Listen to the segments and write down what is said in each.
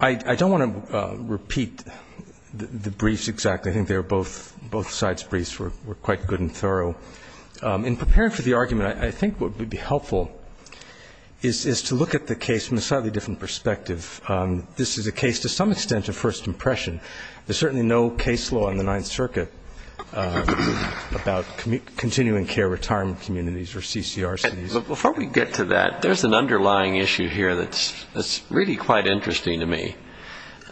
I don't want to repeat the briefs exactly. I think both sides' briefs were quite good and thorough. In preparing for the argument, I think what would be helpful is to look at the case from a slightly different perspective. This is a case, to some extent, of first impression. There's certainly no case law in the Ninth Circuit about continuing care in retirement communities or CCRCs. Before we get to that, there's an underlying issue here that's really quite interesting to me.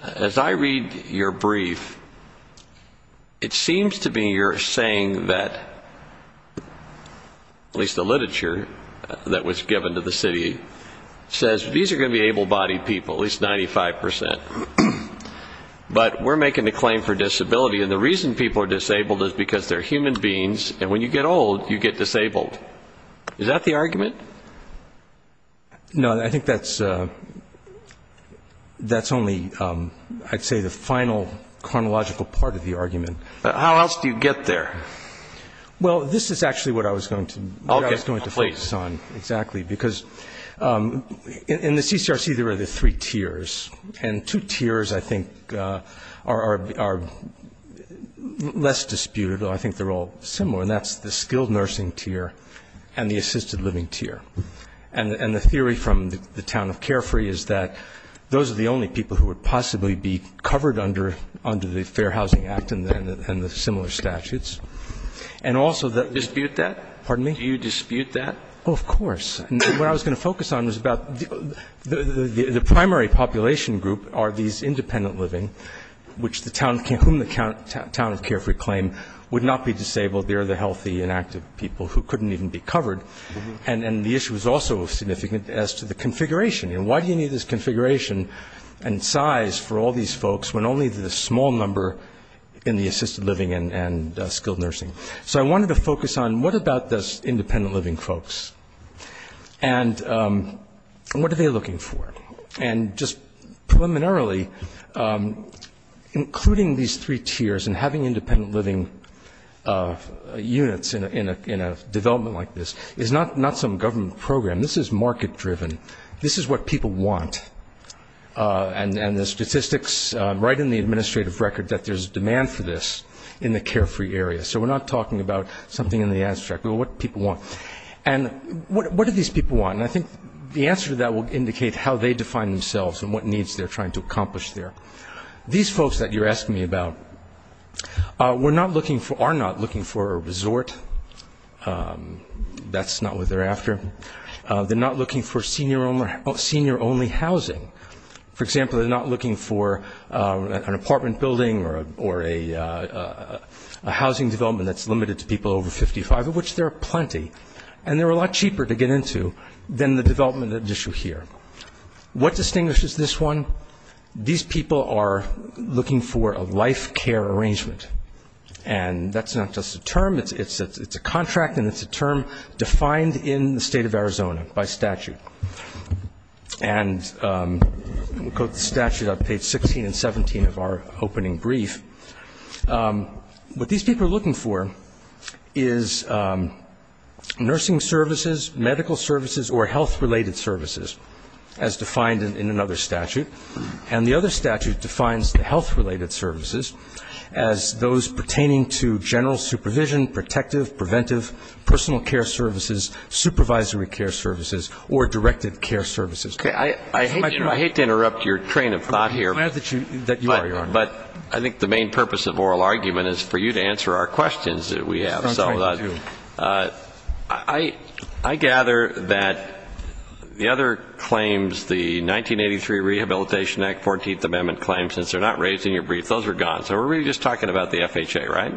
As I read your brief, it seems to me you're saying that, at least the literature that was given to the city, says these are going to be able-bodied people, at least 95%. But we're making a claim for disability, and the reason people are disabled is because they're human beings, and when you get old, you get disabled. Is that the argument? No, I think that's only, I'd say, the final chronological part of the argument. How else do you get there? Well, this is actually what I was going to focus on. Exactly, because in the CCRC, there are the three tiers, and two tiers, I think, are less disputable. I think they're all similar, and that's the skilled nursing tier and the assisted living tier. And the theory from the town of Carefree is that those are the only people who would possibly be covered under the Fair Housing Act and the similar statutes. Do you dispute that? Oh, of course. What I was going to focus on was about the primary population group are these independent living, whom the town of Carefree claim would not be disabled, they're the healthy and active people who couldn't even be covered. And the issue is also significant as to the configuration. Why do you need this configuration and size for all these folks when only the small number in the assisted living and skilled nursing? So I wanted to focus on what about these independent living folks, and what are they looking for? And just preliminarily, including these three tiers and having independent living units in a development like this is not some government program, this is market-driven, this is what people want. And the statistics write in the administrative record that there's demand for this in the Carefree area. I'm not talking about something in the administrative record, what people want. And what do these people want? And I think the answer to that will indicate how they define themselves and what needs they're trying to accomplish there. These folks that you're asking me about are not looking for a resort. That's not what they're after. They're not looking for senior-only housing. For example, they're not looking for an apartment building or a housing development that's limited to people over 55, of which there are plenty. And they're a lot cheaper to get into than the development at issue here. What distinguishes this one? These people are looking for a life care arrangement. This is in the state of Arizona, by statute. And I'll quote the statute on page 16 and 17 of our opening brief. What these people are looking for is nursing services, medical services, or health-related services, as defined in another statute. And the other statute defines the health-related services as those pertaining to general supervision, protective, preventive, personal care services, supervisory care services, or directed care services. I hate to interrupt your train of thought here. But I think the main purpose of oral argument is for you to answer our questions that we have. I gather that the other claims, the 1983 Rehabilitation Act 14th Amendment claims, since they're not raised in your brief, those are gone. So we're really just talking about the FHA, right?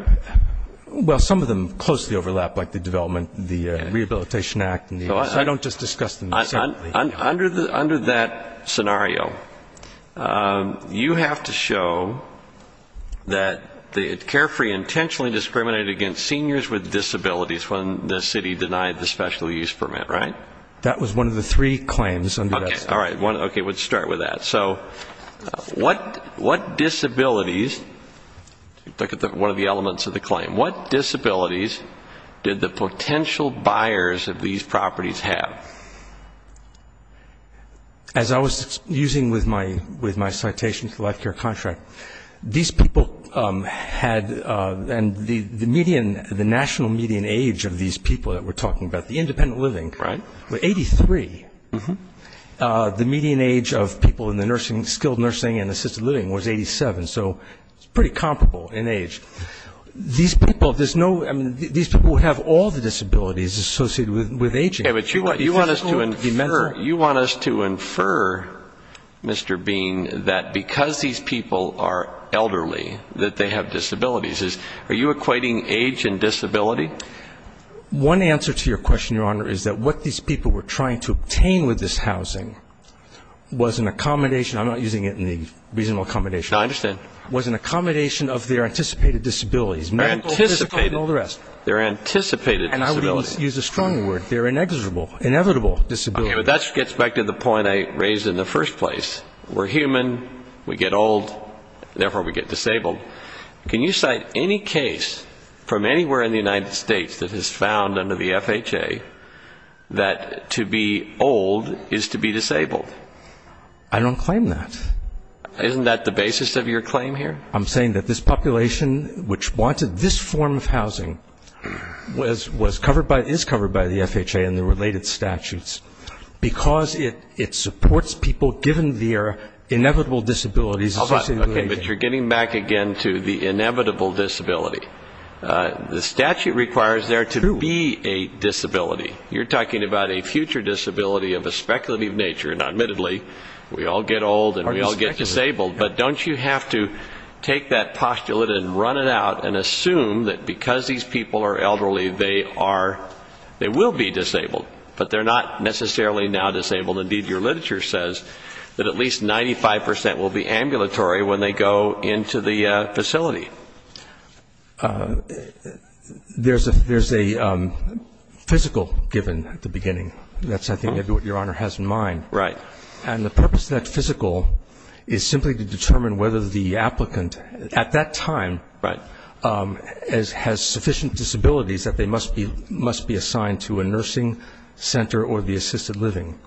Well, some of them closely overlap, like the development, the Rehabilitation Act. So I don't just discuss them. Under that scenario, you have to show that the carefree intentionally discriminated against seniors with disabilities when the city denied the special use permit, right? That was one of the three claims under that statute. All right. Okay. Let's start with that. So what disabilities, look at one of the elements of the claim, what disabilities did the potential buyers of these properties have? As I was using with my citation to the Life Care Contract, these people had, and the median, the national median age of these people that we're talking about, the independent living, the median age of people in the nursing, skilled nursing and assisted living was 87. So it's pretty comparable in age. These people, there's no, I mean, these people have all the disabilities associated with aging. You want us to infer, Mr. Bean, that because these people are elderly, that they have disabilities. Are you equating age and disability? One answer to your question, Your Honor, is that what these people were trying to obtain with this housing was an accommodation. I'm not using it in the reasonable accommodation. No, I understand. Was an accommodation of their anticipated disabilities, medical, physical and all the rest. Anticipated. They're anticipated disabilities. And I would use a stronger word, they're inevitable disabilities. Okay, but that gets back to the point I raised in the first place. We're human, we get old, therefore we get disabled. Can you cite any case from anywhere in the United States that has found under the FHA that to be old is to be disabled? I don't claim that. Isn't that the basis of your claim here? I'm saying that this population, which wanted this form of housing, is covered by the FHA and the related statutes, because it supports people given their inevitable disabilities associated with aging. Okay, but you're getting back again to the inevitable disability. The statute requires there to be a disability. You're talking about a future disability of a speculative nature, and admittedly, we all get old and we all get disabled, but don't you have to take that postulate and run it out and assume that because these people are elderly, they are, they will be disabled, but they're not necessarily now disabled. Indeed, your literature says that at least 95 percent will be ambulatory when they go into the facility. There's a physical given at the beginning. That's, I think, maybe what your Honor has in mind. Right. And the purpose of that physical is simply to determine whether the applicant at that time has sufficient disabilities that they must be assigned to a nursing center or the assisted living.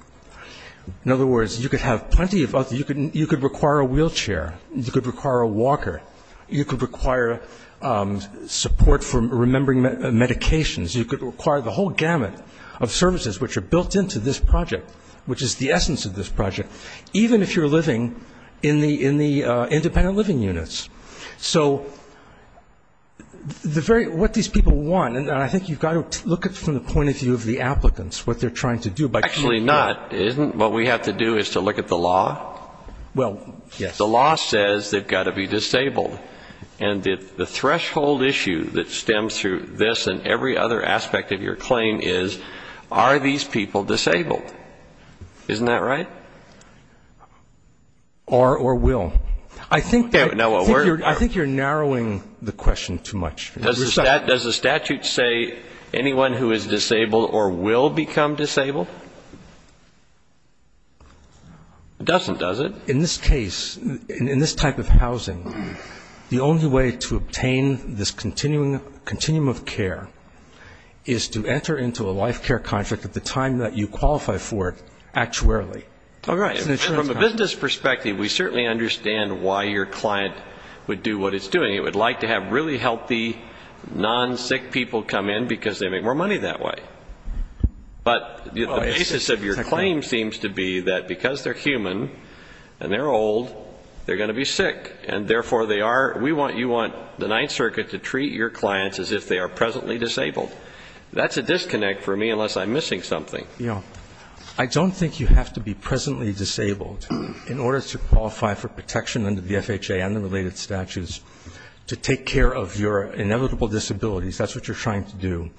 In other words, you could have plenty of other, you could require a wheelchair, you could require a walker, you could require support for remembering medications, you could require the whole gamut of services which are built into this project, which is the essence of this project, even if you're living in the independent living units. So the very, what these people want, and I think you've got to look at it from the point of view of the applicants, what they're trying to do. Actually not, isn't what we have to do is to look at the law? Well, yes. The law says they've got to be disabled. And the threshold issue that stems through this and every other aspect of your claim is, are these people disabled? Isn't that right? Or will. I think you're narrowing the question too much. Does the statute say anyone who is disabled or will become disabled? It doesn't, does it? In this case, in this type of housing, the only way to obtain this continuum of care is to enter into a life care contract at the time that you qualify for it actuarially. From a business perspective, we certainly understand why your client would do what it's doing. It would like to have really healthy, non-sick people come in because they make more money that way. But the basis of your claim seems to be that because they're human and they're old, they're going to be sick. And therefore they are, we want, you want the Ninth Circuit to treat your clients as if they are presently disabled. That's a disconnect for me unless I'm missing something. I don't think you have to be presently disabled in order to qualify for protection under the FHA and the related statutes to take care of your inevitable disabilities. That's what you're trying to do.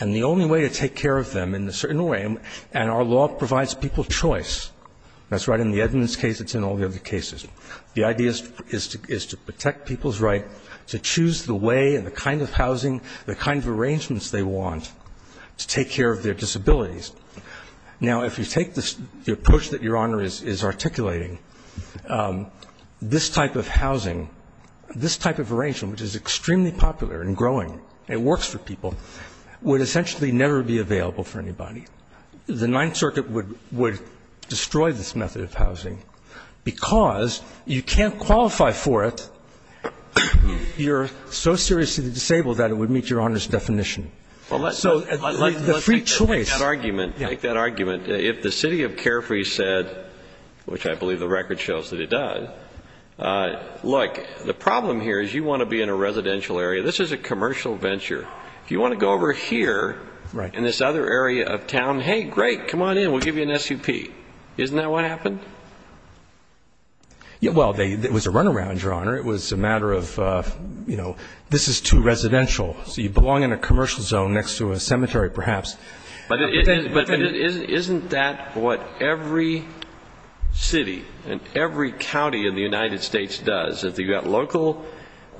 And the only way to take care of them in a certain way, and our law provides people choice. That's right, in the Edmunds case, it's in all the other cases. The idea is to protect people's right to choose the way and the kind of housing, the kind of arrangements they want to take care of their disabilities. Now, if you take the approach that Your Honor is articulating, this type of housing, this type of arrangement, which is extremely popular and growing, and works for people, would essentially never be available for anybody. The Ninth Circuit would destroy this method of housing because you can't qualify for it. You're so seriously disabled that it would meet Your Honor's definition. So the free choice. Let's make that argument. Make that argument. If the city of Carefree said, which I believe the record shows that it does, look, the problem here is you want to be in a residential area. This is a commercial venture. If you want to go over here in this other area of town, hey, great, come on in, we'll give you an SUP. Isn't that what happened? Well, it was a runaround, Your Honor. It was a matter of, you know, this is too residential. So you belong in a commercial zone next to a cemetery perhaps. But isn't that what every city and every county in the United States does? You've got local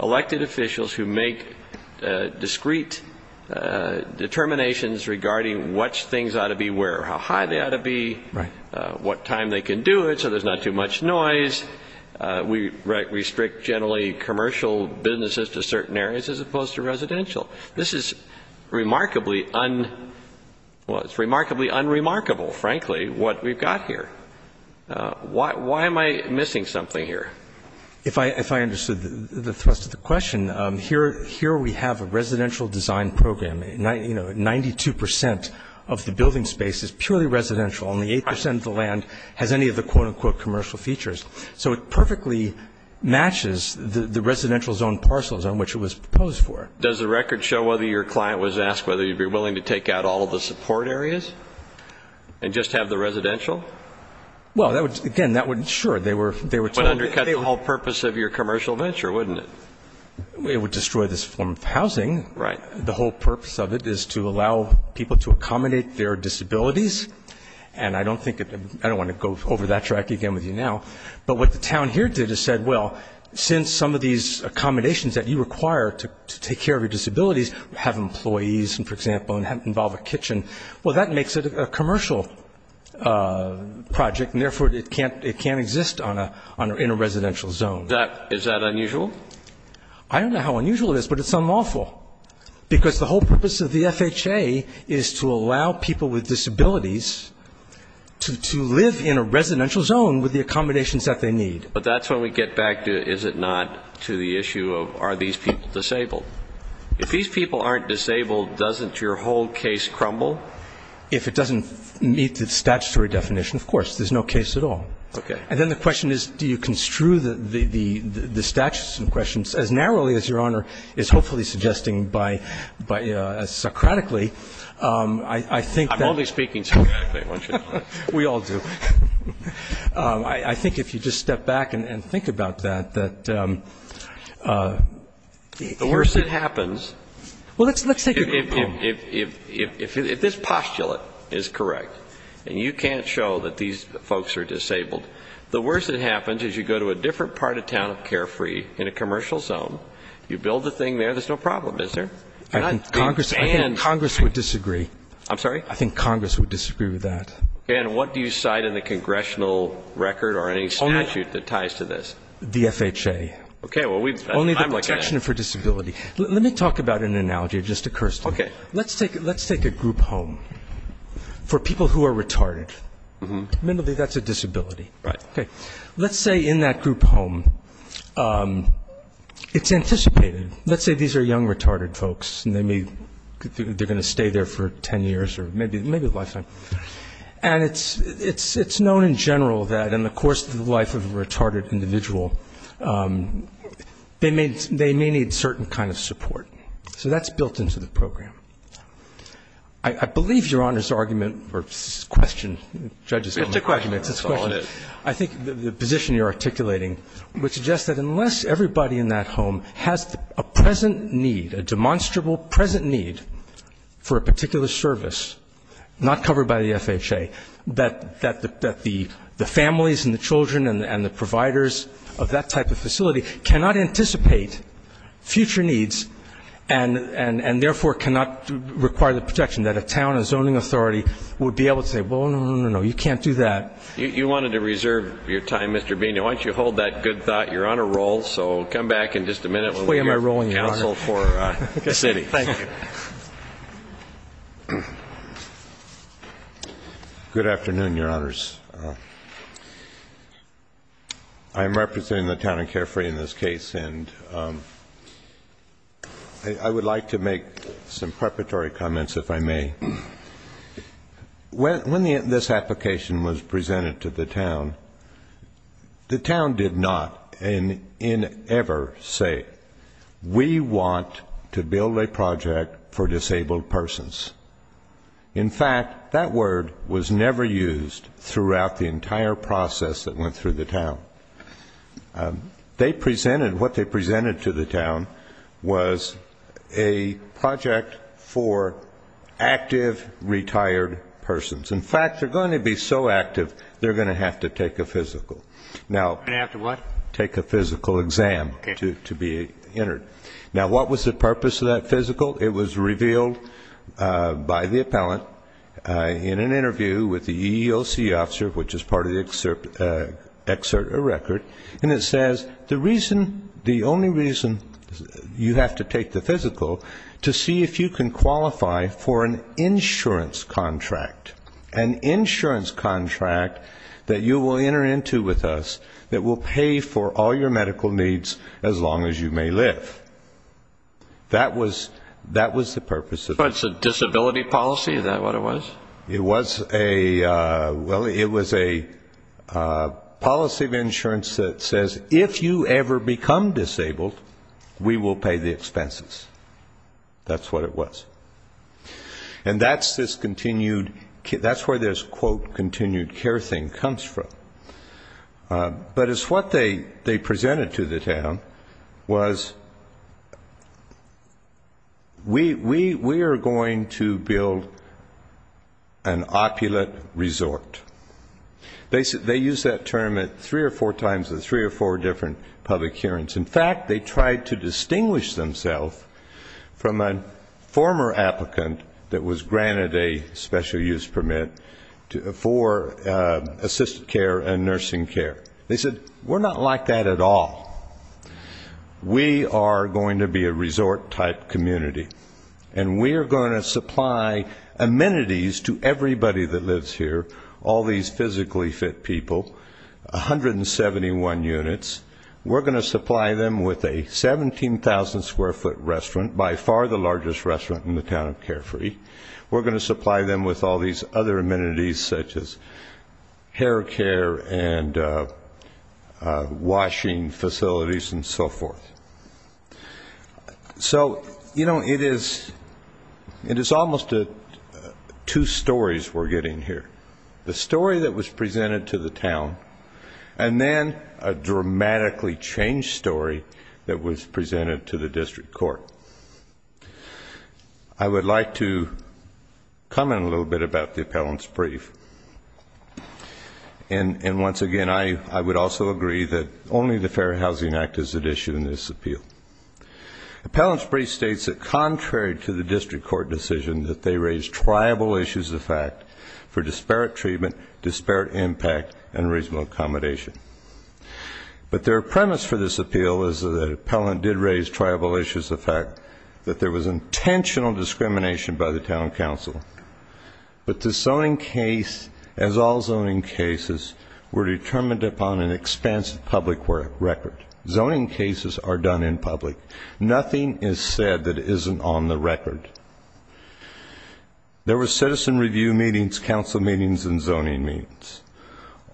elected officials who make discrete determinations regarding which things ought to be where, how high they ought to be, what time they can do it so there's not too much noise. We restrict generally commercial businesses to certain areas as opposed to residential. This is remarkably unremarkable, frankly, what we've got here. Why am I missing something here? If I understood the thrust of the question, here we have a residential design program. You know, 92% of the building space is purely residential. Only 8% of the land has any of the quote-unquote commercial features. So it perfectly matches the residential zone parcels on which it was proposed for. Does the record show whether your client was asked whether you'd be willing to take out all of the support areas and just have the residential? Well, again, sure. It would undercut the whole purpose of your commercial venture, wouldn't it? It would destroy this form of housing. Right. The whole purpose of it is to allow people to accommodate their disabilities, and I don't want to go over that track again with you now. But what the town here did is said, well, since some of these accommodations that you require to take care of your disabilities, have employees, for example, and involve a kitchen, well, that makes it a commercial project, and therefore it can't exist in a residential zone. Is that unusual? I don't know how unusual it is, but it's unlawful. Because the whole purpose of the FHA is to allow people with disabilities to live in a residential zone with the accommodations that they need. But that's when we get back to, is it not, to the issue of are these people disabled. If these people aren't disabled, doesn't your whole case crumble? If it doesn't meet the statutory definition, of course. There's no case at all. Okay. And then the question is, do you construe the statutes and questions as narrowly as Your Honor is hopefully suggesting by Socratically, I think that. I'm only speaking Socratically, aren't you? We all do. I think if you just step back and think about that, that the worst that happens. If this postulate is correct, and you can't show that these folks are disabled, the worst that happens is you go to a different part of town of Carefree in a commercial zone, you build the thing there, there's no problem, is there? I think Congress would disagree. I'm sorry? I think Congress would disagree with that. And what do you cite in the congressional record or any statute that ties to this? The FHA. Okay. Only the protection for disability. Let me talk about an analogy that just occurs to me. Okay. Let's take a group home for people who are retarded. Admittedly, that's a disability. Right. Okay. Let's say in that group home, it's anticipated. Let's say these are young, retarded folks, and they're going to stay there for ten years or maybe a lifetime. And it's known in general that in the course of the life of a retarded individual, they may need certain kind of support. So that's built into the program. I believe Your Honor's argument or question, judge's argument, I think the position you're articulating would suggest that unless everybody in that home has a present need, a demonstrable present need for a particular service not covered by the FHA, that the families and the children and the providers of that type of facility cannot anticipate future needs and, therefore, cannot require the protection that a town, a zoning authority would be able to say, well, no, no, no, no, you can't do that. You wanted to reserve your time, Mr. Bina. Why don't you hold that good thought? You're on a roll, so come back in just a minute when we get counsel for the city. Thank you. Good afternoon, Your Honors. I'm representing the town of Carefree in this case. And I would like to make some preparatory comments, if I may. When this application was presented to the town, the town did not in ever say, we want to build a project for disabled persons. In fact, that word was never used throughout the entire process that went through the town. They presented, what they presented to the town was a project for active retired persons. In fact, they're going to be so active, they're going to have to take a physical. And after what? Take a physical exam to be entered. Now, what was the purpose of that physical? It was revealed by the appellant in an interview with the EEOC officer, which is part of the excerpt or record, and it says the reason, the only reason you have to take the physical, to see if you can qualify for an insurance contract. An insurance contract that you will enter into with us that will pay for all your medical needs as long as you may live. That was the purpose of it. It's a disability policy? Is that what it was? It was a policy of insurance that says if you ever become disabled, we will pay the expenses. That's what it was. And that's where this, quote, continued care thing comes from. But it's what they presented to the town was we are going to build an opulate resort. They used that term three or four times at three or four different public hearings. In fact, they tried to distinguish themselves from a former applicant that was granted a special use permit for assisted care and nursing care. They said we're not like that at all. We are going to be a resort-type community, and we are going to supply amenities to everybody that lives here, all these physically fit people, 171 units. We're going to supply them with a 17,000-square-foot restaurant, by far the largest restaurant in the town of Carefree. We're going to supply them with all these other amenities such as hair care and washing facilities and so forth. So, you know, it is almost two stories we're getting here. The story that was presented to the town, and then a dramatically changed story that was presented to the district court. I would like to comment a little bit about the appellant's brief. And once again, I would also agree that only the Fair Housing Act is at issue in this appeal. Appellant's brief states that contrary to the district court decision that they raised tribal issues of fact for disparate treatment, disparate impact, and reasonable accommodation. But their premise for this appeal is that the appellant did raise tribal issues of fact, that there was intentional discrimination by the town council. But the zoning case, as all zoning cases, were determined upon an expansive public record. Zoning cases are done in public. Nothing is said that isn't on the record. There were citizen review meetings, council meetings, and zoning meetings.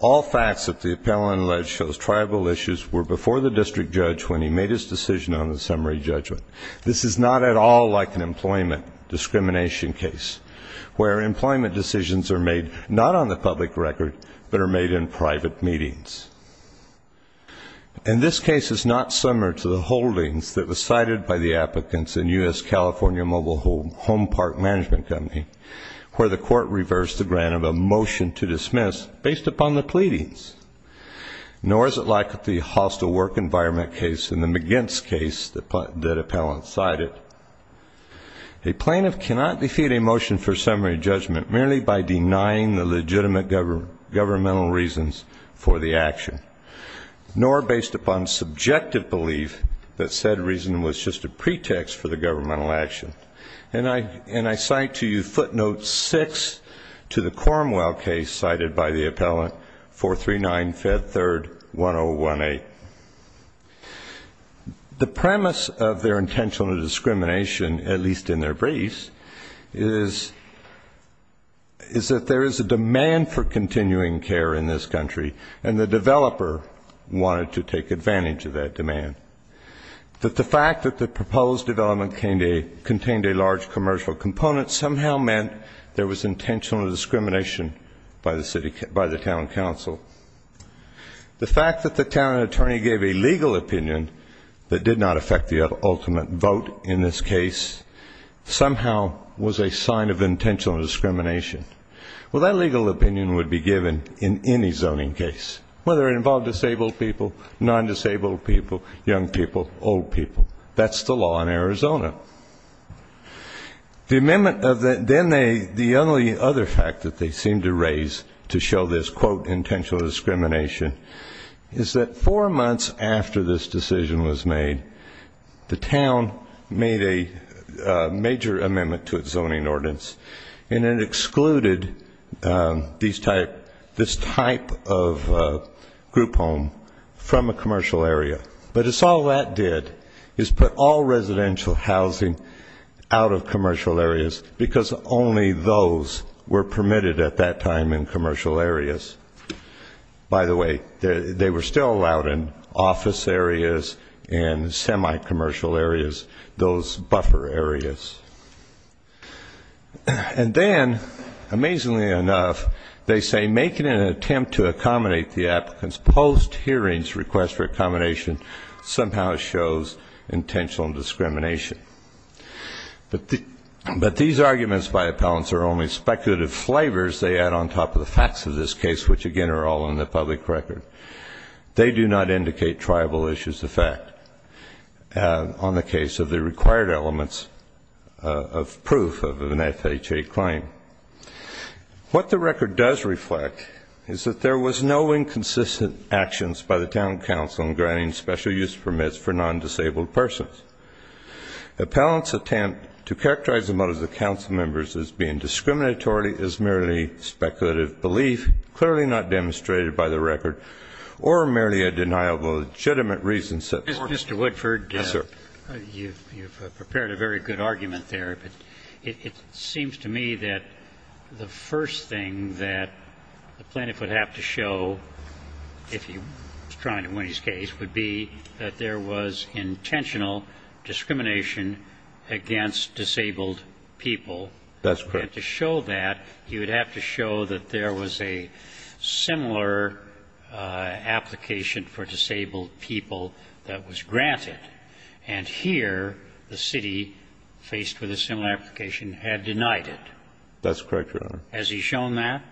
All facts that the appellant alleged shows tribal issues were before the district judge when he made his decision on the summary judgment. This is not at all like an employment discrimination case, where employment decisions are made not on the public record, but are made in private meetings. And this case is not similar to the holdings that were cited by the applicants in U.S. California Mobile Home Park Management Company, where the court reversed the grant of a motion to dismiss based upon the pleadings. Nor is it like the hostile work environment case in the McGintz case that the appellant cited. A plaintiff cannot defeat a motion for summary judgment merely by denying the legitimate governmental reasons for the action, nor based upon subjective belief that said reason was just a pretext for the governmental action. And I cite to you footnote 6 to the Cornwell case cited by the appellant, 439-Fed3-1018. The premise of their intentional discrimination, at least in their briefs, is that there is a demand for continuing care in this country, and the developer wanted to take advantage of that demand. But the fact that the proposed development contained a large commercial component somehow meant there was intentional discrimination by the town council. The fact that the town attorney gave a legal opinion that did not affect the ultimate vote in this case somehow was a sign of intentional discrimination. Well, that legal opinion would be given in any zoning case, whether it involved disabled people, non-disabled people, young people, old people. That's the law in Arizona. Then the only other fact that they seem to raise to show this, quote, intentional discrimination, is that four months after this decision was made, the town made a major amendment to its zoning ordinance, and it excluded this type of group home from a commercial area. But it's all that did is put all residential housing out of commercial areas because only those were permitted at that time in commercial areas. By the way, they were still allowed in office areas, in semi-commercial areas, those buffer areas. And then, amazingly enough, they say, making an attempt to accommodate the applicant's post-hearings request for accommodation somehow shows intentional discrimination. But these arguments by appellants are only speculative flavors they add on top of the facts of this case, which, again, are all in the public record. They do not indicate triable issues of fact on the case of the required elements of proof of an FHA claim. What the record does reflect is that there was no inconsistent actions by the town council in granting special use permits for non-disabled persons. Appellants' attempt to characterize the motives of council members as being discriminatory is merely speculative belief, clearly not demonstrated by the record, or merely a denial of legitimate reasons set forth. Mr. Woodford, you've prepared a very good argument there. But it seems to me that the first thing that the plaintiff would have to show, if he was trying to win his case, would be that there was intentional discrimination against disabled people. That's correct. And to show that, he would have to show that there was a similar application for disabled people that was granted. And here, the city, faced with a similar application, had denied it. That's correct, Your Honor. Has he shown that?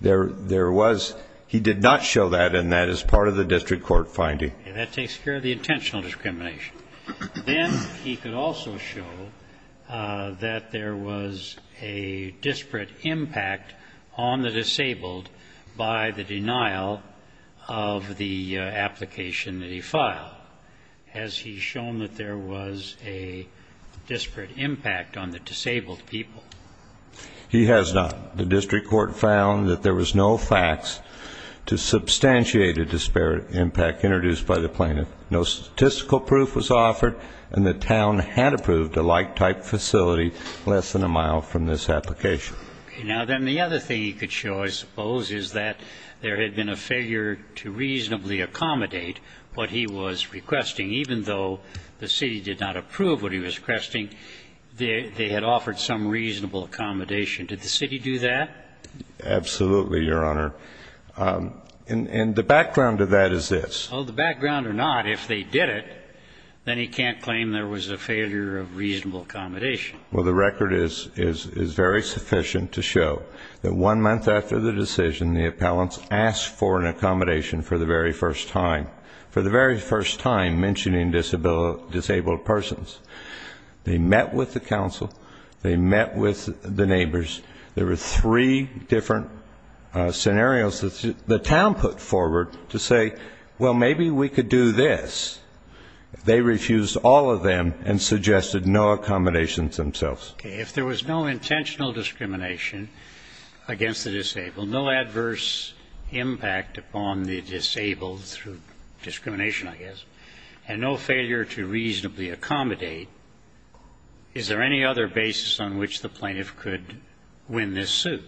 There was. He did not show that, and that is part of the district court finding. That takes care of the intentional discrimination. Then he could also show that there was a disparate impact on the disabled by the denial of the application that he filed. Has he shown that there was a disparate impact on the disabled people? He has not. The district court found that there was no facts to substantiate a disparate impact introduced by the plaintiff. No statistical proof was offered, and the town had approved a like-type facility less than a mile from this application. Okay. Now, then the other thing he could show, I suppose, is that there had been a failure to reasonably accommodate what he was requesting. Even though the city did not approve what he was requesting, they had offered some reasonable accommodation. Did the city do that? Absolutely, Your Honor. And the background to that is this. Well, the background or not, if they did it, then he can't claim there was a failure of reasonable accommodation. Well, the record is very sufficient to show that one month after the decision, the appellants asked for an accommodation for the very first time, for the very first time mentioning disabled persons. They met with the council. They met with the neighbors. There were three different scenarios that the town put forward to say, well, maybe we could do this. They refused all of them and suggested no accommodations themselves. Okay. If there was no intentional discrimination against the disabled, no adverse impact upon the disabled through discrimination, I guess, and no failure to reasonably accommodate, is there any other basis on which the plaintiff could win this suit?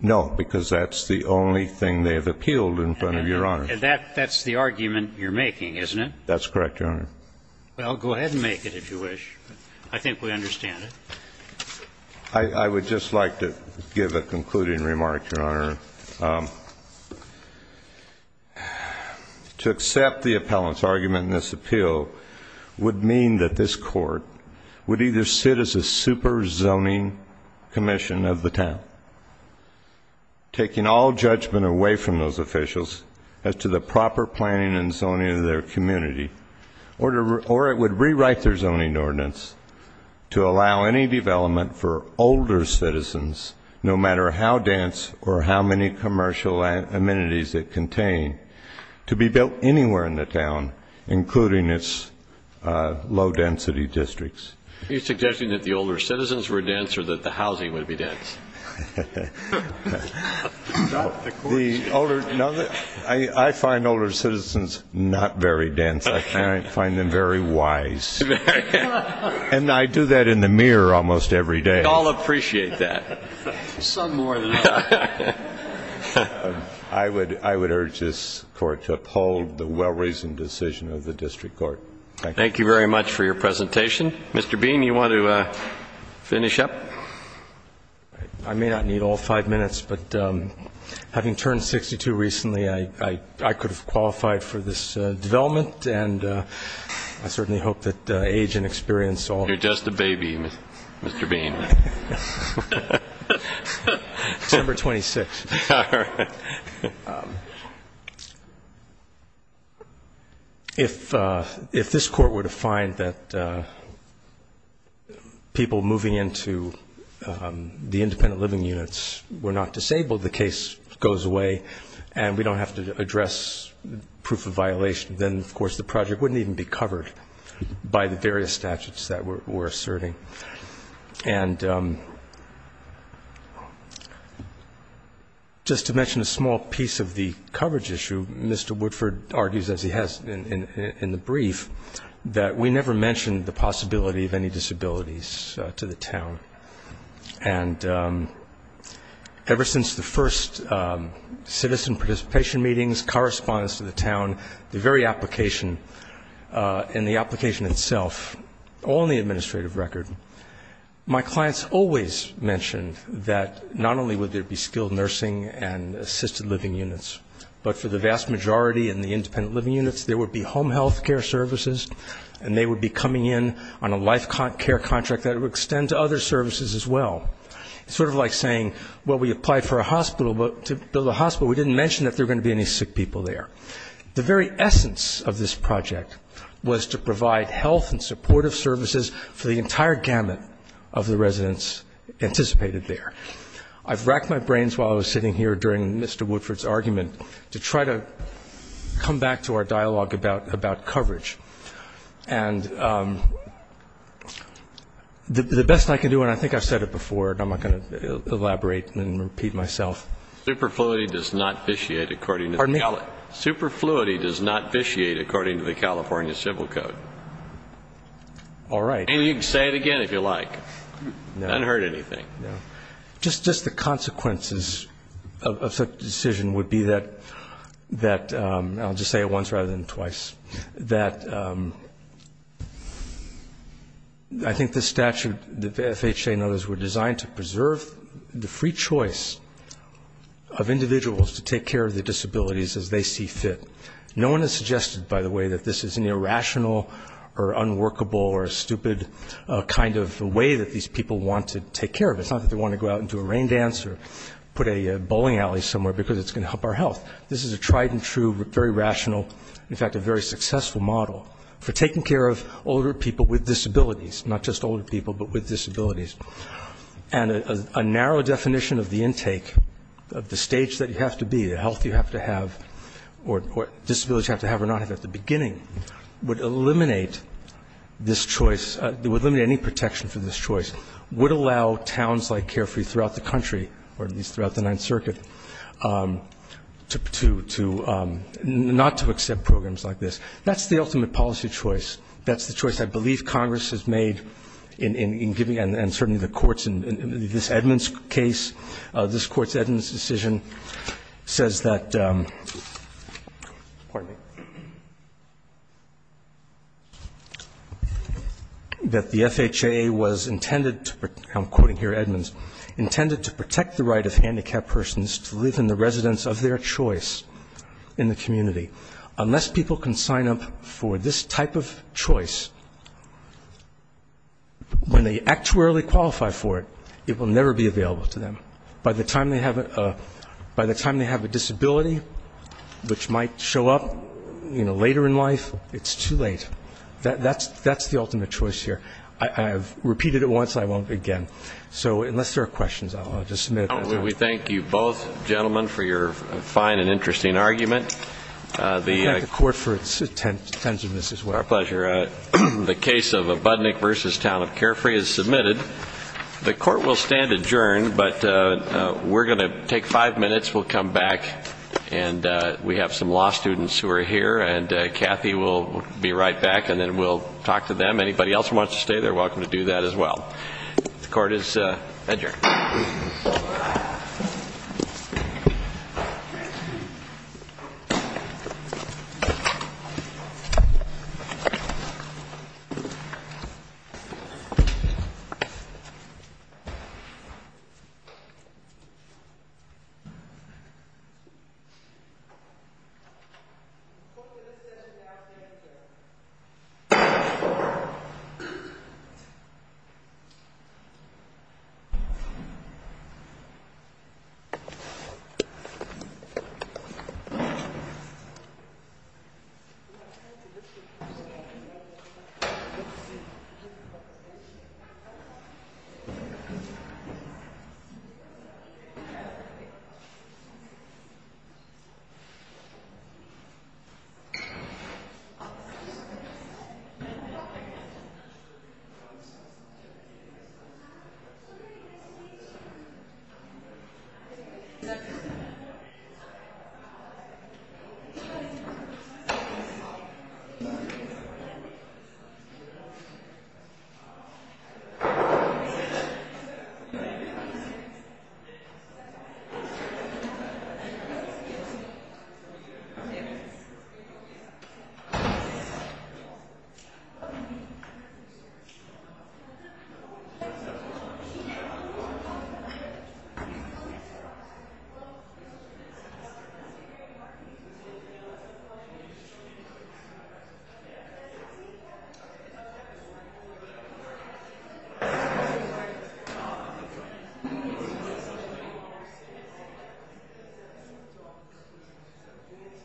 No, because that's the only thing they have appealed in front of Your Honor. And that's the argument you're making, isn't it? That's correct, Your Honor. Well, go ahead and make it if you wish. I think we understand it. I would just like to give a concluding remark, Your Honor. To accept the appellant's argument in this appeal would mean that this court would either sit as a super zoning commission of the town, taking all judgment away from those officials as to the proper planning and zoning of their community, or it would rewrite their zoning ordinance to allow any development for older citizens, no matter how dense or how many commercial amenities it contained, to be built anywhere in the town, including its low-density districts. Are you suggesting that the older citizens were dense or that the housing would be dense? Not the court's decision. I find older citizens not very dense. I find them very wise. And I do that in the mirror almost every day. We all appreciate that. Some more than others. I would urge this court to uphold the well-reasoned decision of the district court. Thank you. Thank you very much for your presentation. Mr. Bean, do you want to finish up? I may not need all five minutes, but having turned 62 recently, I could have qualified for this development, and I certainly hope that age and experience all the time. You're just a baby, Mr. Bean. December 26th. All right. If this court were to find that people moving into the independent living units were not disabled, the case goes away and we don't have to address proof of violation, then, of course, the project wouldn't even be covered by the various statutes that we're asserting. And just to mention a small piece of the coverage issue, Mr. Woodford argues, as he has in the brief, that we never mentioned the possibility of any disabilities to the town. And ever since the first citizen participation meetings, correspondence to the town, the very application and the application itself, all in the administrative record, my clients always mentioned that not only would there be skilled nursing and assisted living units, but for the vast majority in the independent living units, there would be home health care services, and they would be coming in on a life care contract that would extend to other services as well. It's sort of like saying, well, we applied for a hospital, but to build a hospital, but we didn't mention that there were going to be any sick people there. The very essence of this project was to provide health and supportive services for the entire gamut of the residents anticipated there. I've racked my brains while I was sitting here during Mr. Woodford's argument to try to come back to our dialogue about coverage. And the best I can do, and I think I've said it before, and I'm not going to elaborate and repeat myself. Superfluity does not vitiate according to the California Civil Code. All right. And you can say it again if you like. I haven't heard anything. Just the consequences of such a decision would be that, I'll just say it once rather than twice, that I think the statute, the FHA and others were designed to preserve the free choice of individuals to take care of their disabilities as they see fit. No one has suggested, by the way, that this is an irrational or unworkable or stupid kind of way that these people want to take care of it. It's not that they want to go out and do a rain dance or put a bowling alley somewhere, because it's going to help our health. This is a tried and true, very rational, in fact a very successful model for taking care of older people with disabilities, not just older people, but with disabilities. And a narrow definition of the intake, of the stage that you have to be, the health you have to have or disabilities you have to have or not have at the beginning, would eliminate this choice, would eliminate any protection for this choice, would allow towns like Carefree throughout the country, or at least throughout the Ninth Circuit, not to accept programs like this. That's the ultimate policy choice. That's the choice I believe Congress has made in giving, and certainly the courts, and this Edmunds case, this Court's Edmunds decision says that, pardon me, that the FHA was intended to, I'm quoting here Edmunds, intended to protect the right of handicapped persons to live in the residence of their choice in the community. Unless people can sign up for this type of choice, when they actuarially qualify for it, it will never be available to them. By the time they have a disability, which might show up later in life, it's too late. That's the ultimate choice here. I have repeated it once and I won't again. So unless there are questions, I'll just submit it. We thank you both gentlemen for your fine and interesting argument. We thank the Court for its attentiveness as well. Our pleasure. The case of Budnick v. Town of Carefree is submitted. The Court will stand adjourned, but we're going to take five minutes. We'll come back, and we have some law students who are here, and Kathy will be right back, and then we'll talk to them. Anybody else who wants to stay, they're welcome to do that as well. The Court is adjourned. The Court is adjourned. The Court is adjourned. The Court is adjourned. The Court is adjourned. The Court is adjourned. The Court is adjourned. The Court is adjourned.